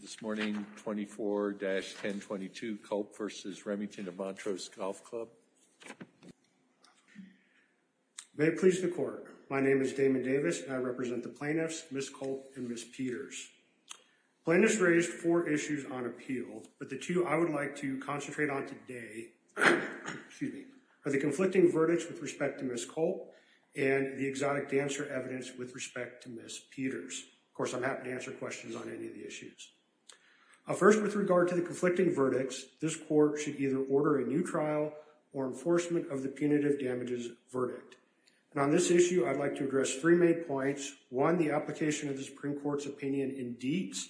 This morning 24-1022 Culp v. Remington of Montrose Golf Club. May it please the court, my name is Damon Davis and I represent the plaintiffs Ms. Culp and Ms. Peters. Plaintiffs raised four issues on appeal but the two I would like to concentrate on today excuse me are the conflicting verdicts with respect to Ms. Culp and the exotic dancer evidence with respect to Ms. Peters. Of course I'm happy to answer questions on any of the issues. First with regard to the conflicting verdicts this court should either order a new trial or enforcement of the punitive damages verdict and on this issue I'd like to address three main points. One the application of the Supreme Court's opinion in deets,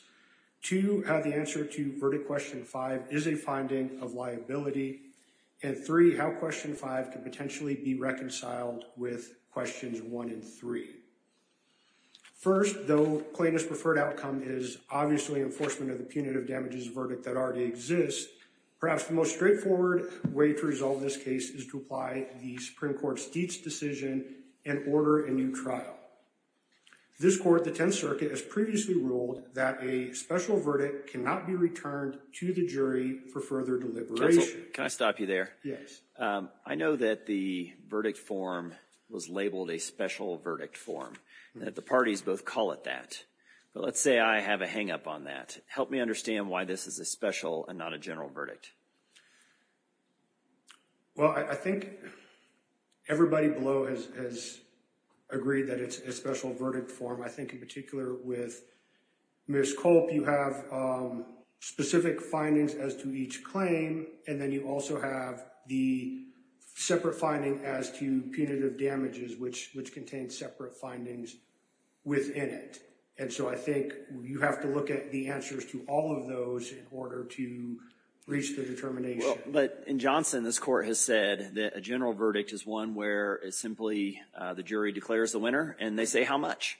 two how the answer to verdict question five is a finding of liability and three how question five could potentially be reconciled with questions one and three. First though plaintiff's preferred outcome is obviously enforcement of the punitive damages verdict that already exists perhaps the most straightforward way to resolve this case is to apply the Supreme Court's deets decision and order a new trial. This court the 10th circuit has previously ruled that a special verdict cannot be returned to the jury for further deliberation. Can I stop you there? Yes. I know that the verdict form was labeled a special verdict form and that the parties both call it that but let's say I have a hang up on that. Help me understand why this is a special and not a general verdict. Well I think everybody below has agreed that it's a special verdict form. I think in particular with Ms. Culp you have specific findings as to each claim and then you also have the separate finding as to punitive damages which contains separate findings within it and so I think you have to look at the answers to all of those in order to reach the determination. But in Johnson this court has said that a general verdict is one where it's simply the jury declares the winner and they say how much.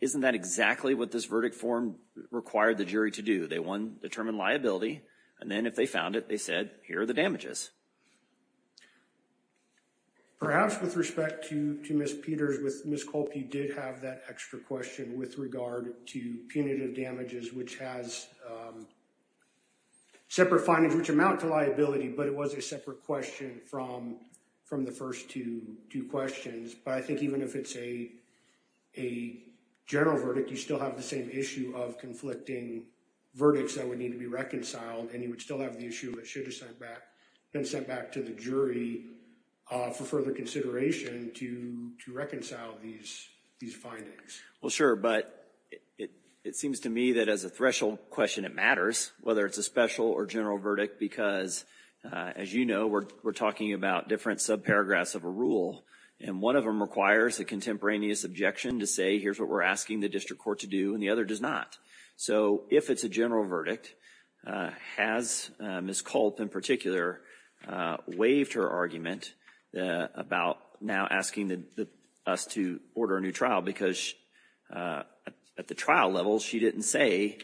Isn't that exactly what this verdict form required the jury to do? They one determine liability and then if they found it they said here are the damages. Perhaps with respect to to Ms. Peters with Ms. Culp you did have that extra question with regard to punitive damages which has separate findings which amount to liability but it was a separate question from from the first two two questions but I think even if it's a a general verdict you still have the same issue of conflicting verdicts that would need to be reconciled and you would still have the issue that should have sent back been sent back to the jury for further consideration to to reconcile these these findings. Well sure but it it seems to me that as a threshold question it matters whether it's a special or general verdict because as you know we're talking about different subparagraphs of a rule and one of them requires a contemporaneous objection to say here's what we're asking the district court to do and the other does not. So if it's a general verdict has Ms. Culp in particular waived her argument about now asking the us to order a new trial because at the trial level she didn't say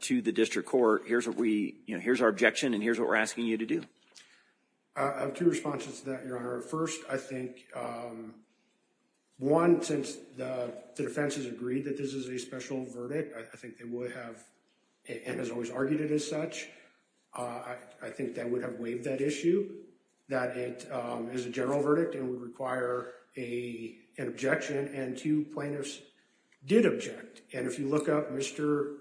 to the district court here's what we you know here's our objection and here's what we're asking you to do. I have two responses to that your honor. First I think one since the defense has agreed that this is a special verdict I think they would have and has always argued it as such I think that would have waived that issue that it is a general verdict and would require a an objection and two plaintiffs did object and if you look up Mr.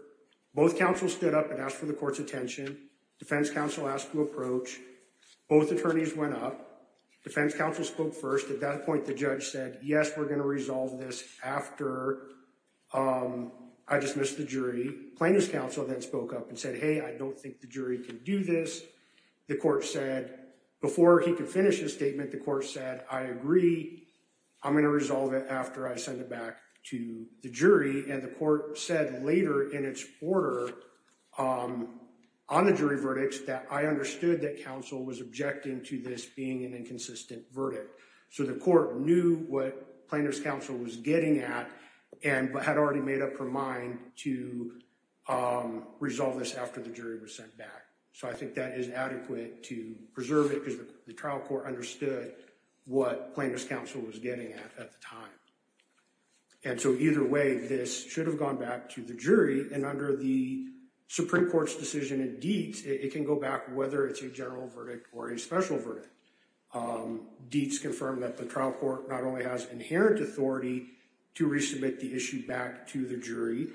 both counsel stood up and asked for the court's attention defense counsel asked to approach both attorneys went up defense counsel spoke first at that point the judge said yes we're going to resolve this after I dismissed the jury plaintiff's counsel then spoke up and said hey I don't think the jury can do this the court said before he could finish his statement the court said I agree I'm going to resolve it after I send it back to the jury and the court said later in its order on the jury verdicts that I understood that counsel was objecting to this being an inconsistent verdict so the court knew what plaintiff's counsel was getting at and but had already made up her mind to resolve this after the jury was sent back so I think that is adequate to preserve it because the trial court understood what plaintiff's counsel was getting at at the time and so either way this should have gone back to the jury and under the supreme court's decision in deets it can go back whether it's a general verdict or a special verdict um deets confirmed that the trial court not only has inherent authority to resubmit the issue back to the jury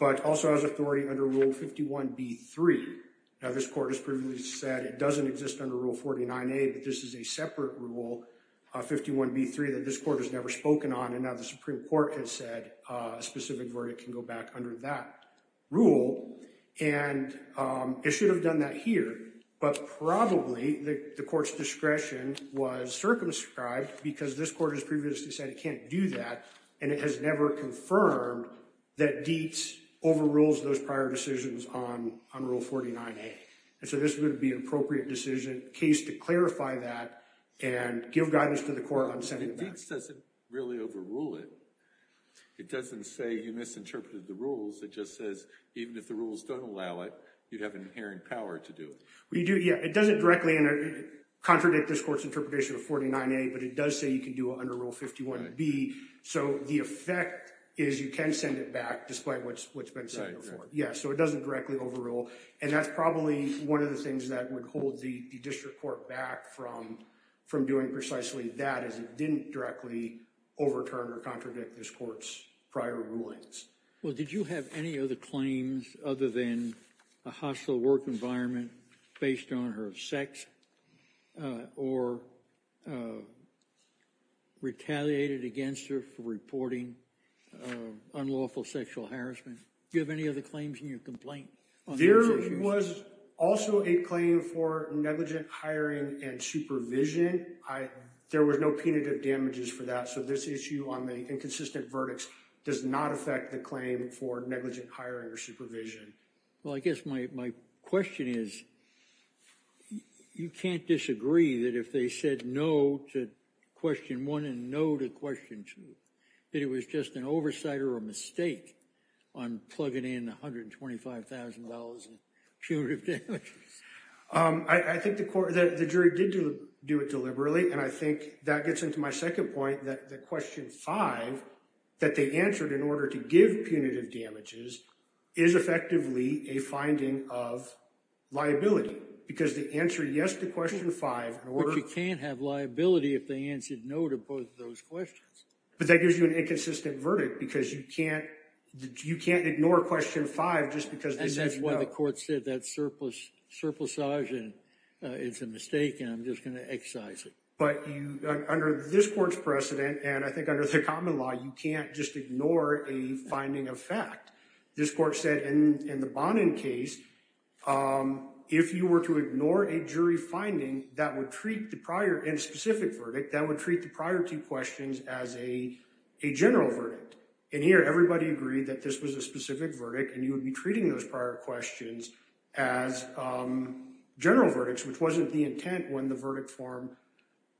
but also has authority under rule 51 b3 now this court has previously said it doesn't exist under rule 49a but this is a separate rule 51 b3 that this court has never spoken on and now the supreme court has said a specific verdict can go back under that rule and it should have done that here but probably the court's discretion was circumscribed because this court has previously said it can't do that and it has never confirmed that deets overrules those prior decisions on on rule 49a and so this would be an appropriate decision case to clarify that and give guidance to the court on sending it back it doesn't really overrule it it doesn't say you misinterpreted the rules it just says even if the rules don't allow it you'd have an inherent power to do it well you do yeah it doesn't directly contradict this court's interpretation of 49a but it does say you can do under rule 51 b so the effect is you can send it back despite what's what's been said before yeah so it doesn't directly overrule and that's probably one of the back from from doing precisely that as it didn't directly overturn or contradict this court's prior rulings well did you have any other claims other than a hostile work environment based on her sex or retaliated against her for reporting unlawful sexual harassment do you have any other complaint there was also a claim for negligent hiring and supervision i there was no punitive damages for that so this issue on the inconsistent verdicts does not affect the claim for negligent hiring or supervision well i guess my my question is you can't disagree that if they said no to one and no to question two that it was just an oversight or a mistake on plugging in 125 000 punitive damages um i think the court that the jury did do it deliberately and i think that gets into my second point that the question five that they answered in order to give punitive damages is effectively a finding of liability because the answer yes to question five in order you can't have liability if they answered no to both of those questions but that gives you an inconsistent verdict because you can't you can't ignore question five just because this is what the court said that surplus surplusage and it's a mistake and i'm just going to excise it but you under this court's precedent and i think under the common law you can't just ignore a finding of fact this court said in in the bonding case um if you were to ignore a jury finding that would treat the prior and specific verdict that would treat the prior two questions as a a general verdict and here everybody agreed that this was a specific verdict and you would be treating those prior questions as um general verdicts which wasn't the intent when the verdict form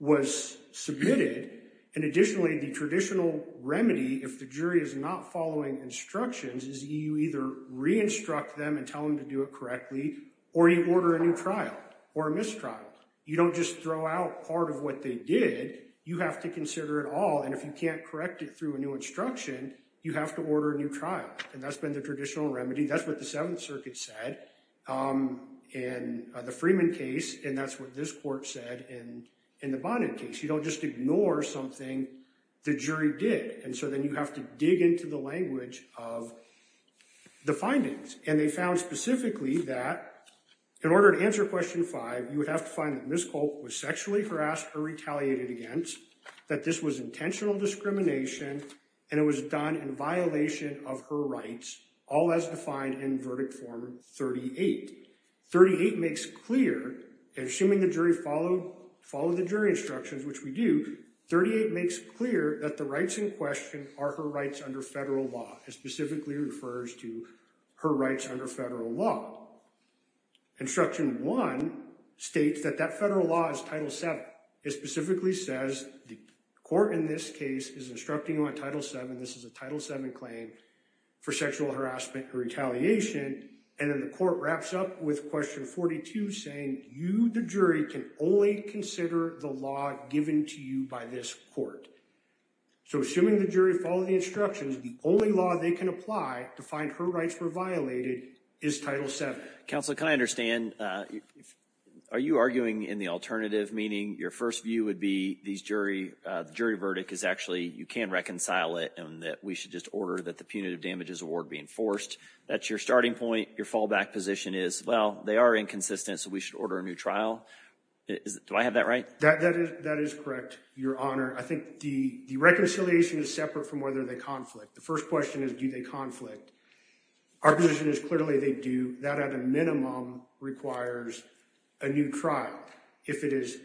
was submitted and additionally the traditional remedy if the jury is not following instructions is you either re-instruct them and tell them to do it correctly or you order a new or a mistrial you don't just throw out part of what they did you have to consider it all and if you can't correct it through a new instruction you have to order a new trial and that's been the traditional remedy that's what the seventh circuit said um in the freeman case and that's what this court said in in the bonded case you don't just ignore something the jury did and so then you have to dig into the language of the findings and they found specifically that in order to answer question five you would have to find that miss colt was sexually harassed or retaliated against that this was intentional discrimination and it was done in violation of her rights all as defined in verdict form 38 38 makes clear and assuming the jury followed follow the jury instructions which we do 38 makes clear that the rights in question are her rights under federal law it specifically refers to her rights under federal law instruction one states that that federal law is title 7 it specifically says the court in this case is instructing on title 7 this is a title 7 claim for sexual harassment and retaliation and then the court wraps up with question 42 saying you the jury can only consider the law given to you by this court so assuming the jury follow the instructions the only law they can apply to find her rights were violated is title 7 council can i understand uh are you arguing in the alternative meaning your first view would be these jury uh the jury verdict is actually you can reconcile it and that we should just order that the punitive damages award be enforced that's your starting point your fallback position is well they are inconsistent so we should order a new trial is do i have that right that that is that is correct your honor i think the the reconciliation is separate from whether they conflict the first question is do they conflict our position is clearly they do that at a minimum requires a new trial if it is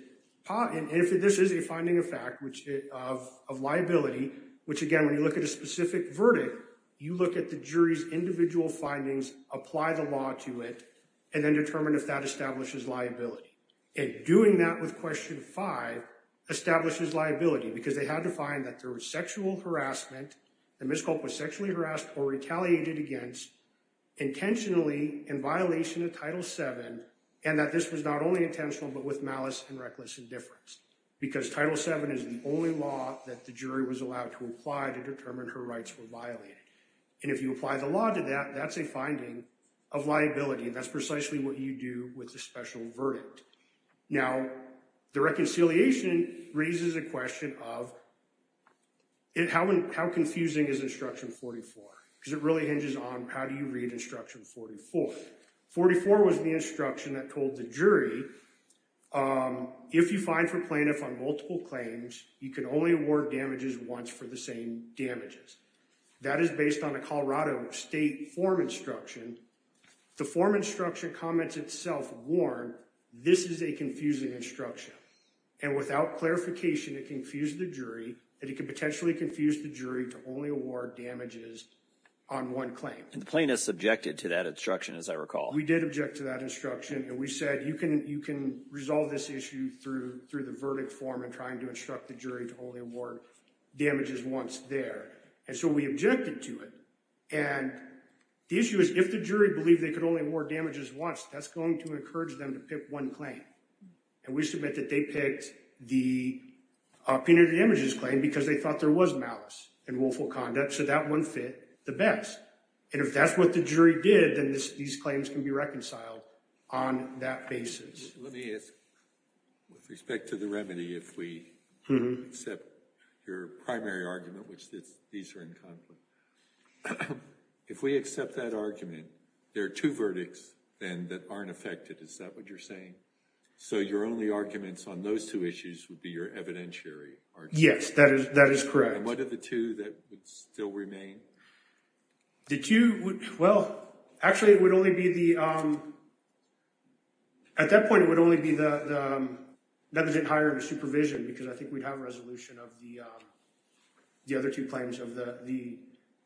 and if this is a finding of fact which of of liability which again when you look at a specific verdict you look at the jury's individual findings apply the law to it and then determine if that establishes liability and doing that with question 5 establishes liability because they had to find that there was sexual harassment the miscult was sexually harassed or retaliated against intentionally in violation of title 7 and that this was not only intentional but with malice and reckless indifference because title 7 is the only law that the jury was allowed to apply to determine her rights were and if you apply the law to that that's a finding of liability that's precisely what you do with the special verdict now the reconciliation raises a question of it how and how confusing is instruction 44 because it really hinges on how do you read instruction 44 44 was the instruction that told the jury um if you find for plaintiff on multiple claims you can only award damages once for the same damages that is based on a colorado state form instruction the form instruction comments itself warned this is a confusing instruction and without clarification it confused the jury that it could potentially confuse the jury to only award damages on one claim and the plaintiff subjected to that instruction as i recall we did object to that instruction and we said you can you can resolve this issue through through the instruct the jury to only award damages once there and so we objected to it and the issue is if the jury believed they could only award damages once that's going to encourage them to pick one claim and we submit that they picked the opinion of the images claim because they thought there was malice and willful conduct so that one fit the best and if that's what the jury did then this these claims can be reconciled on that basis let me ask with respect to the remedy if we accept your primary argument which this these are in conflict if we accept that argument there are two verdicts then that aren't affected is that what you're saying so your only arguments on those two issues would be your evidentiary yes that is that is correct and what are the two that would still remain did you well actually it would only be the um at that point it would only be the the um that was it higher in supervision because i think we'd have a resolution of the um the other two claims of the the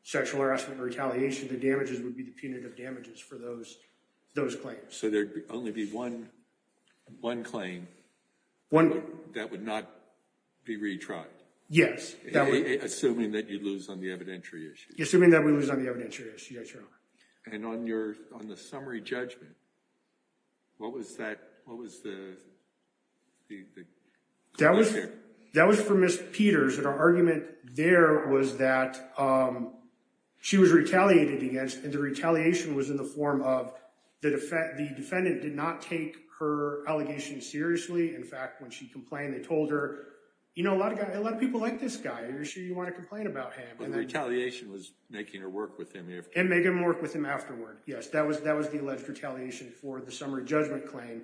sexual harassment retaliation the damages would be the punitive damages for those those claims so there'd only be one one claim one that would not be retried yes that would assuming that you lose on the evidentiary issue assuming that we lose on and on your on the summary judgment what was that what was the the that was that was for miss peters and our argument there was that um she was retaliated against and the retaliation was in the form of the defendant the defendant did not take her allegation seriously in fact when she complained they told her you know a lot of guys a lot of people like this guy you're sure you want to complain about him and the retaliation was making her work with him and make him work with him afterward yes that was that was the alleged retaliation for the summary judgment claim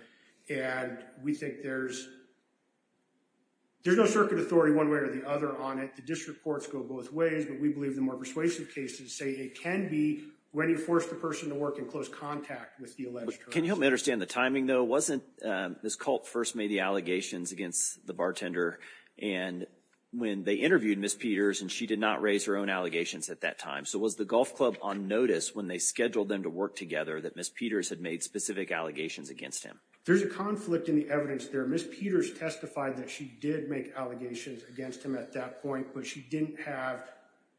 and we think there's there's no circuit authority one way or the other on it the district courts go both ways but we believe the more persuasive cases say it can be when you force the person to work in close contact with the alleged can you help me understand the timing though wasn't um this cult first made the allegations against the bartender and when they interviewed miss peters and she did not raise her own allegations at that time so was the golf club on notice when they scheduled them to work together that miss peters had made specific allegations against him there's a conflict in the evidence there miss peters testified that she did make allegations against him at that point but she didn't have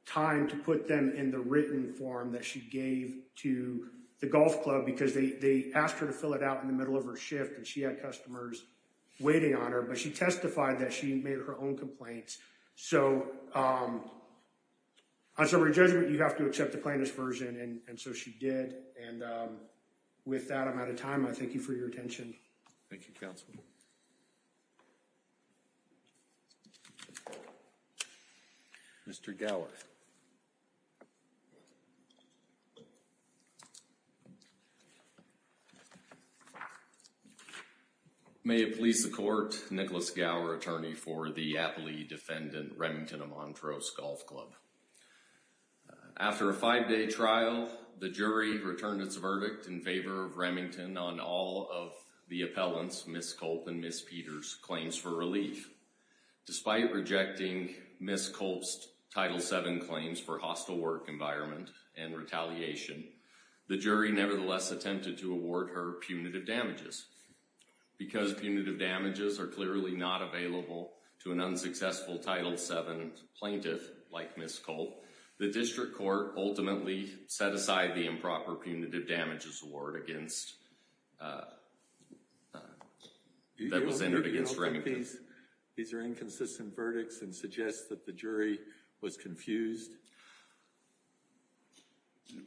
time to put them in the written form that she gave to the golf club because they they asked her to fill it out in the middle of her shift and she had customers waiting on her but she testified that she made her own complaints so um on summary judgment you have to accept the plaintiff's version and and so she did and um with that i'm out of time i thank you for your attention thank you counsel mr gower may it please the court nicholas gower attorney for the aptly defendant remington amontrose golf club after a five-day trial the jury returned its verdict in favor of remington on all of the appellants miss colt and miss peters claims for relief despite rejecting miss colt's title seven claims for hostile work environment and retaliation the jury nevertheless attempted to award her punitive damages because punitive damages are clearly not available to an unsuccessful title seven plaintiff like miss colt the district court ultimately set aside the improper punitive damages award against uh that was entered against remedies these are inconsistent verdicts and suggest that the jury was confused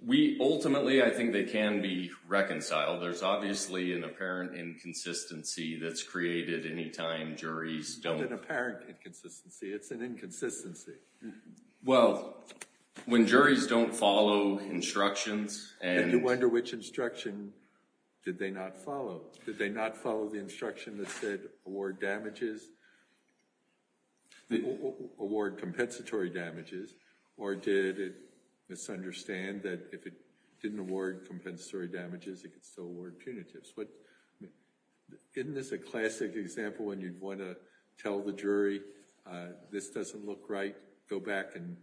we ultimately i think they can be reconciled there's obviously an apparent inconsistency that's created anytime juries don't an apparent inconsistency it's an inconsistency well when juries don't follow instructions and you wonder which instruction did they not follow did they not follow the instruction that said award damages award compensatory damages or did it misunderstand that if it didn't award compensatory damages it could still award punitives but isn't this a classic example when you'd want to tell the jury this doesn't look right go back and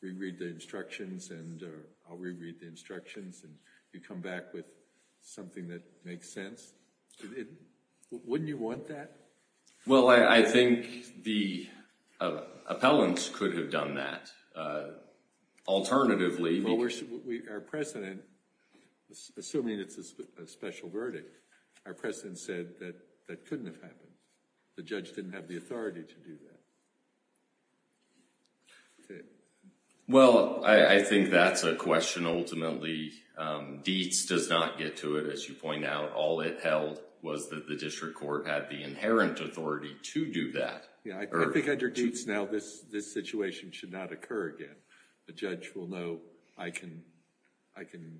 reread the instructions and i'll reread the instructions and you come back with something that makes sense wouldn't you want that well i think the appellants could have done that uh alternatively well we're our president assuming it's a special verdict our president said that that couldn't have happened the judge didn't have the authority to do that okay well i i think that's a question ultimately um deets does not get to it as you point out all it held was that the district court had the inherent authority to do that yeah i think under deets now this this situation should not occur again the judge will know i can i can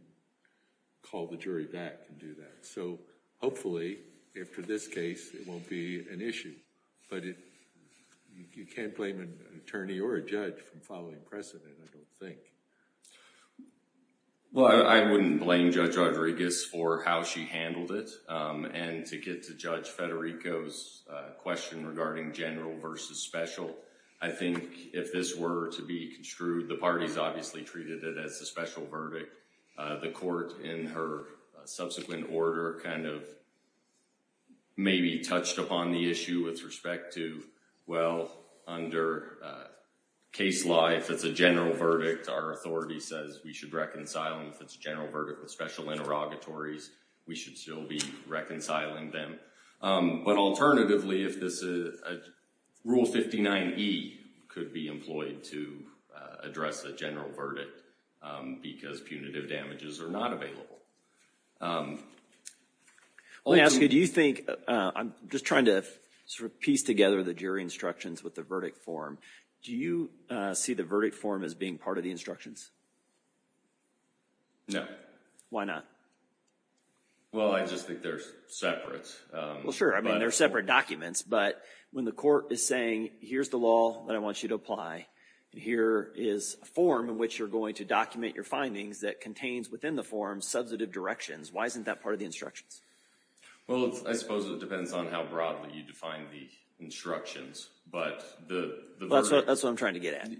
call the jury back and do that so hopefully if for this case it won't be an issue but it you can't blame an attorney or a judge from following precedent i don't think well i wouldn't blame judge rodriguez for how she handled it um and to get to judge federico's uh question regarding general versus special i think if this were to be construed the parties obviously treated it as a special verdict uh the court in her subsequent order kind of maybe touched upon the issue with respect to well under uh case life that's a general verdict our authority says we should reconcile them if it's a general verdict with special interrogatories we should still be reconciling them um but alternatively if this is rule 59e could be do you think i'm just trying to sort of piece together the jury instructions with the verdict form do you uh see the verdict form as being part of the instructions no why not well i just think they're separate um well sure i mean they're separate documents but when the court is saying here's the law that i want you to apply and here is a form in which you're going to document your findings that contains within the form substantive directions why isn't that part of the instructions well i suppose it depends on how broadly you define the instructions but the that's what i'm trying to get at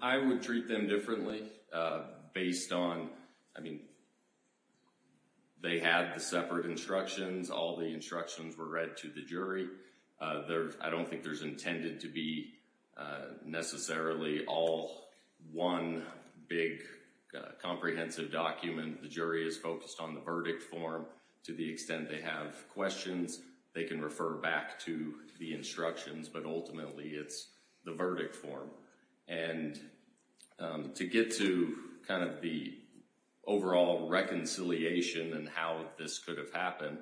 i would treat them differently uh based on i mean they had the separate instructions all the instructions were read to the jury uh there i don't think there's intended to be necessarily all one big comprehensive document the jury is focused on the verdict form to the extent they have questions they can refer back to the instructions but ultimately it's the verdict form and um to get to kind of the overall reconciliation and how this could have happened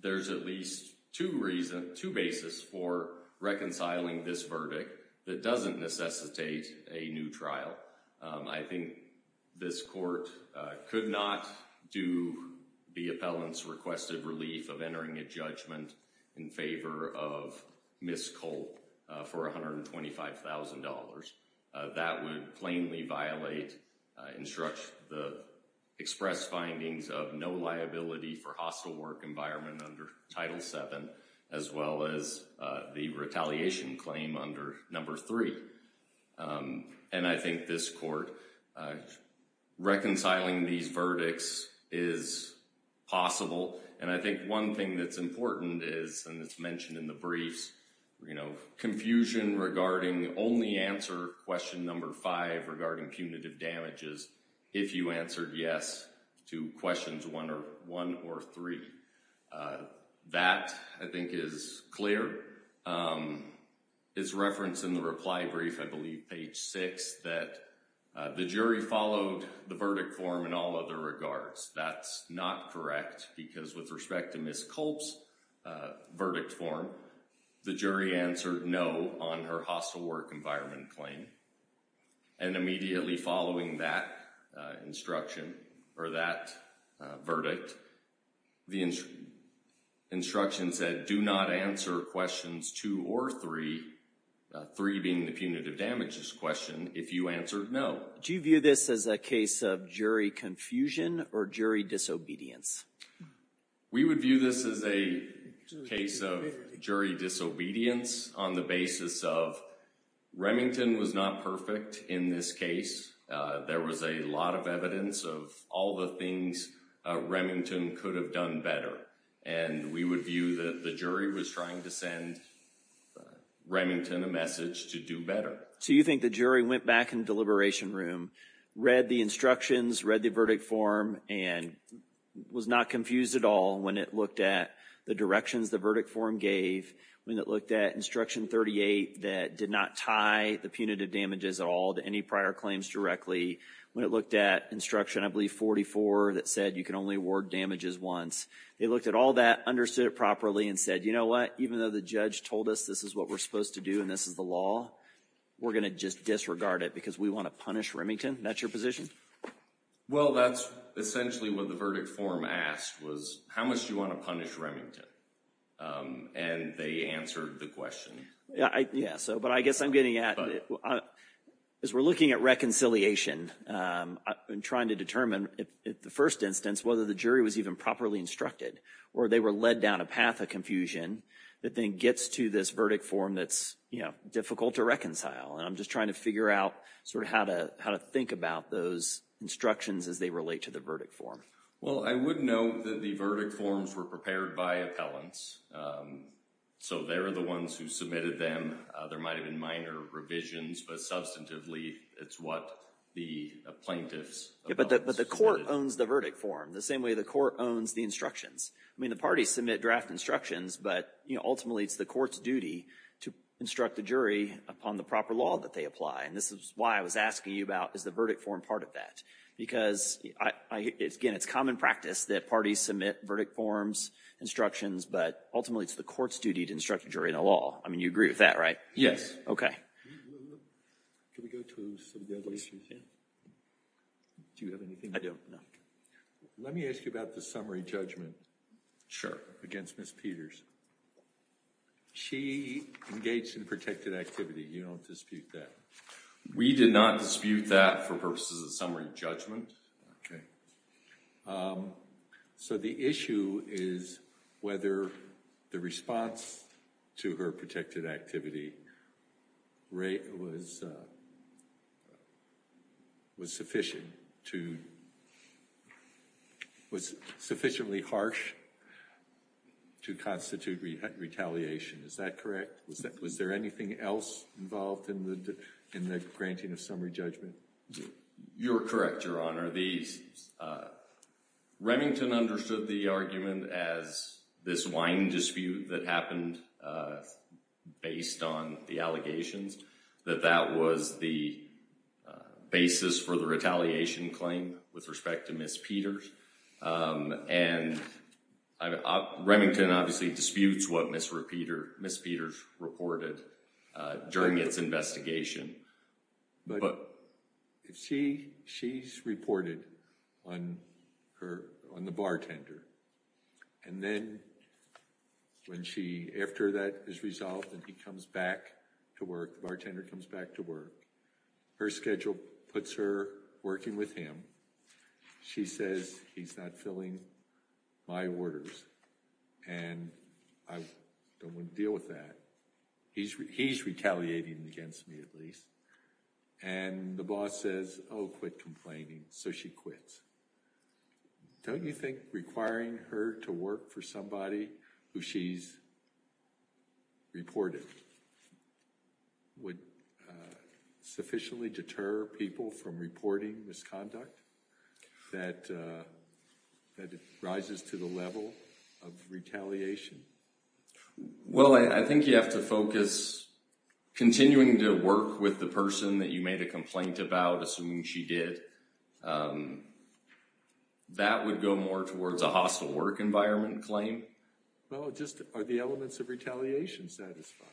there's at least two reason two basis for reconciling this verdict that doesn't necessitate a new trial i think this court could not do the appellants requested relief of entering a judgment in favor of miss colt for 125 000 that would plainly violate instruct the express findings of no liability for hostile work environment under title seven as well as the retaliation claim under number three and i think this court reconciling these verdicts is possible and i think one thing that's important is and it's mentioned in the briefs you know confusion regarding only answer question number five regarding punitive damages if you answered yes to questions one or three that i think is clear um it's referenced in the reply brief i believe page six that the jury followed the verdict form in all other regards that's not correct because with respect to miss colt's uh verdict form the jury answered no on her hostile work environment claim and immediately following that instruction or that verdict the instruction said do not answer questions two or three three being the punitive damages question if you answered no do you view this as a case of jury confusion or jury disobedience we would view this as a case of jury disobedience on the basis of remington was not perfect in this case there was a lot of evidence of all the things remington could have done better and we would view that the jury was trying to send remington a message to do better so you think the jury went back in the deliberation room read the instructions read the verdict form and was not confused at all when it looked at the directions the verdict form gave when it looked at instruction 38 that did not tie the punitive damages at all to any prior claims directly when it looked at instruction i believe 44 that said you can only award damages once they looked at all that understood it properly and said you know what even though the judge told us this is what we're supposed to do and this is the law we're going to just disregard it because we want to punish remington that's your position well that's essentially what the verdict form asked was how much do you want to punish remington and they answered the question yeah i yeah so but i guess i'm getting at as we're looking at reconciliation um i've been trying to determine if the first instance whether the jury was even properly instructed or they were led down a path of confusion that then gets to this verdict form that's you know difficult to reconcile and i'm just trying to figure out sort of how to how to think about those instructions as they relate to the verdict form well i would note that the verdict forms were prepared by appellants um so they're the ones who submitted them uh there might have been minor revisions but substantively it's what the plaintiffs but but the court owns the verdict form the same way the court owns the instructions i mean the parties submit draft instructions but you know ultimately it's the court's duty to instruct the jury upon the proper law that they apply and this is why i was asking you about is the verdict form part of that because i it's again it's common practice that parties submit verdict forms instructions but ultimately it's the court's duty to instruct the jury in the law i mean you agree with that right yes okay can we go to some of the other issues yeah do you have anything i don't know let me ask you about the summary judgment sure against miss peters she engaged in protected activity you don't dispute that we did not dispute that for purposes of summary judgment okay um so the issue is whether the response to her protected activity right was uh was sufficient to was sufficiently harsh to constitute retaliation is that correct was that was there anything else involved in the in the granting of summary judgment you're correct your honor these uh remington understood the argument as this wine dispute that happened uh based on the allegations that that was the basis for the retaliation claim with respect to miss peters um and remington obviously disputes what miss repeater miss peters reported uh during its investigation but if she she's reported on her on the bartender and then when she after that is resolved and he comes back to work the bartender comes back to work her schedule puts her working with him she says he's not filling my orders and i don't want to deal with that he's he's retaliating against me at least and the boss says oh quit complaining so she quits don't you think requiring her to work for somebody who she's reported would uh sufficiently deter people from reporting misconduct that uh that it rises to the level of retaliation well i think you have to focus continuing to work with the person that you made a complaint about assuming she did um that would go more towards a hostile work environment claim well just are the elements of retaliation satisfied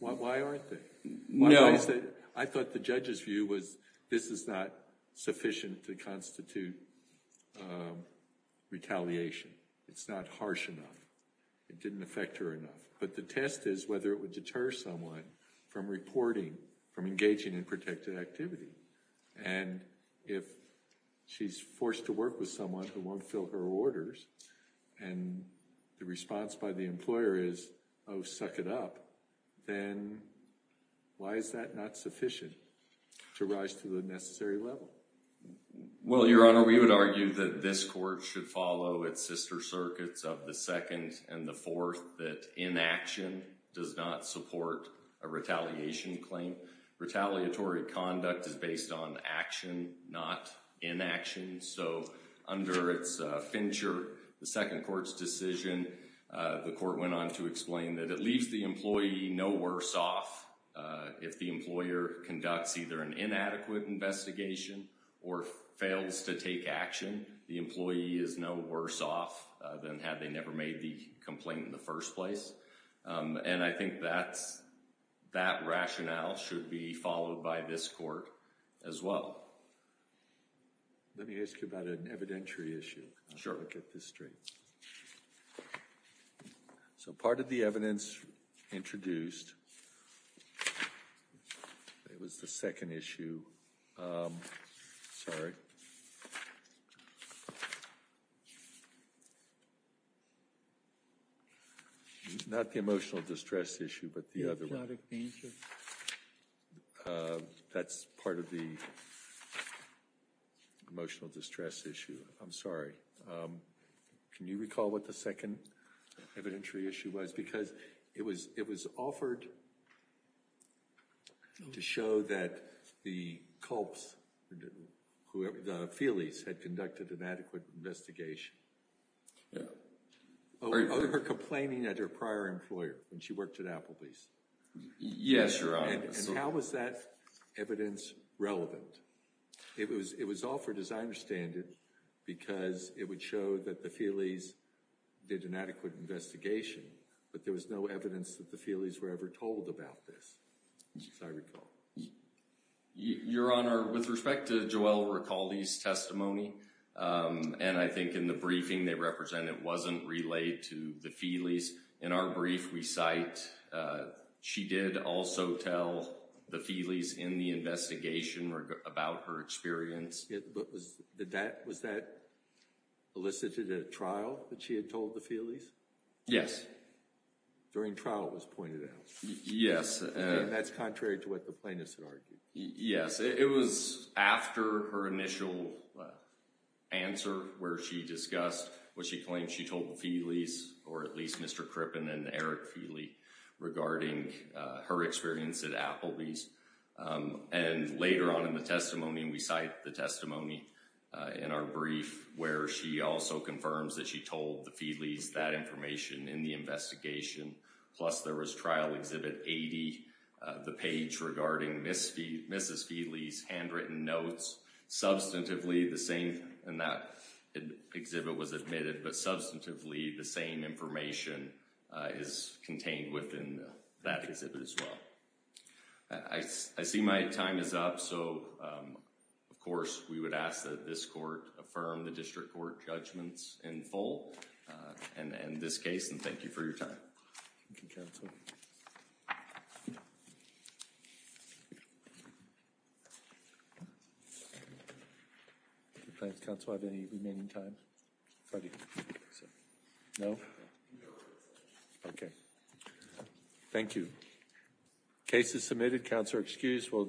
why aren't they no i thought the judge's view was this is not sufficient to constitute um retaliation it's not harsh enough it didn't affect her enough but the test is whether it would deter someone from reporting from engaging in protected activity and if she's forced to work with someone who won't fill her orders and the response by the employer is oh suck it up then why is that not sufficient to rise to the necessary level well your honor we would argue that this court should follow its sister circuits of the second and the fourth that inaction does not support a retaliation claim retaliatory conduct is based on action not in action so under its fincher the second court's decision the court went on to explain that it leaves the employee no worse off if the employer conducts either an inadequate investigation or fails to take action the employee is no worse off than had they never made the complaint in first place um and i think that's that rationale should be followed by this court as well let me ask you about an evidentiary issue i'll get this straight so part of the evidence introduced it was the second issue um sorry not the emotional distress issue but the other one that's part of the emotional distress issue i'm sorry um can you recall what the second evidentiary issue was because it was it was offered to show that the culps whoever the feelys had conducted an adequate investigation yeah over her complaining at her prior employer when she worked at applebee's yes your honor and how was that evidence relevant it was it was offered as i understand it because it would show that the feelys did an adequate investigation but there was no evidence that the feelys were ever told about this as i recall your honor with respect to joelle ricaldi's testimony and i think in the briefing they represent it wasn't relayed to the feelys in our brief we cite she did also tell the feelys in the investigation about her experience it was that that was that elicited at trial that she had told the feelys yes during trial it was pointed yes and that's contrary to what the plaintiffs had argued yes it was after her initial answer where she discussed what she claimed she told the feelys or at least mr crippen and eric feely regarding her experience at applebee's and later on in the testimony we cite the testimony in our brief where she also confirms that she told the feelys that information in the investigation plus there was trial exhibit 80 the page regarding mrs feely's handwritten notes substantively the same and that exhibit was admitted but substantively the same information is contained within that exhibit as well i see my time is up so of course we would ask that this court affirm the district court judgments in full and in this case and thank you for your time thank you council if you plan to council have any remaining time no okay thank you cases submitted councillor excused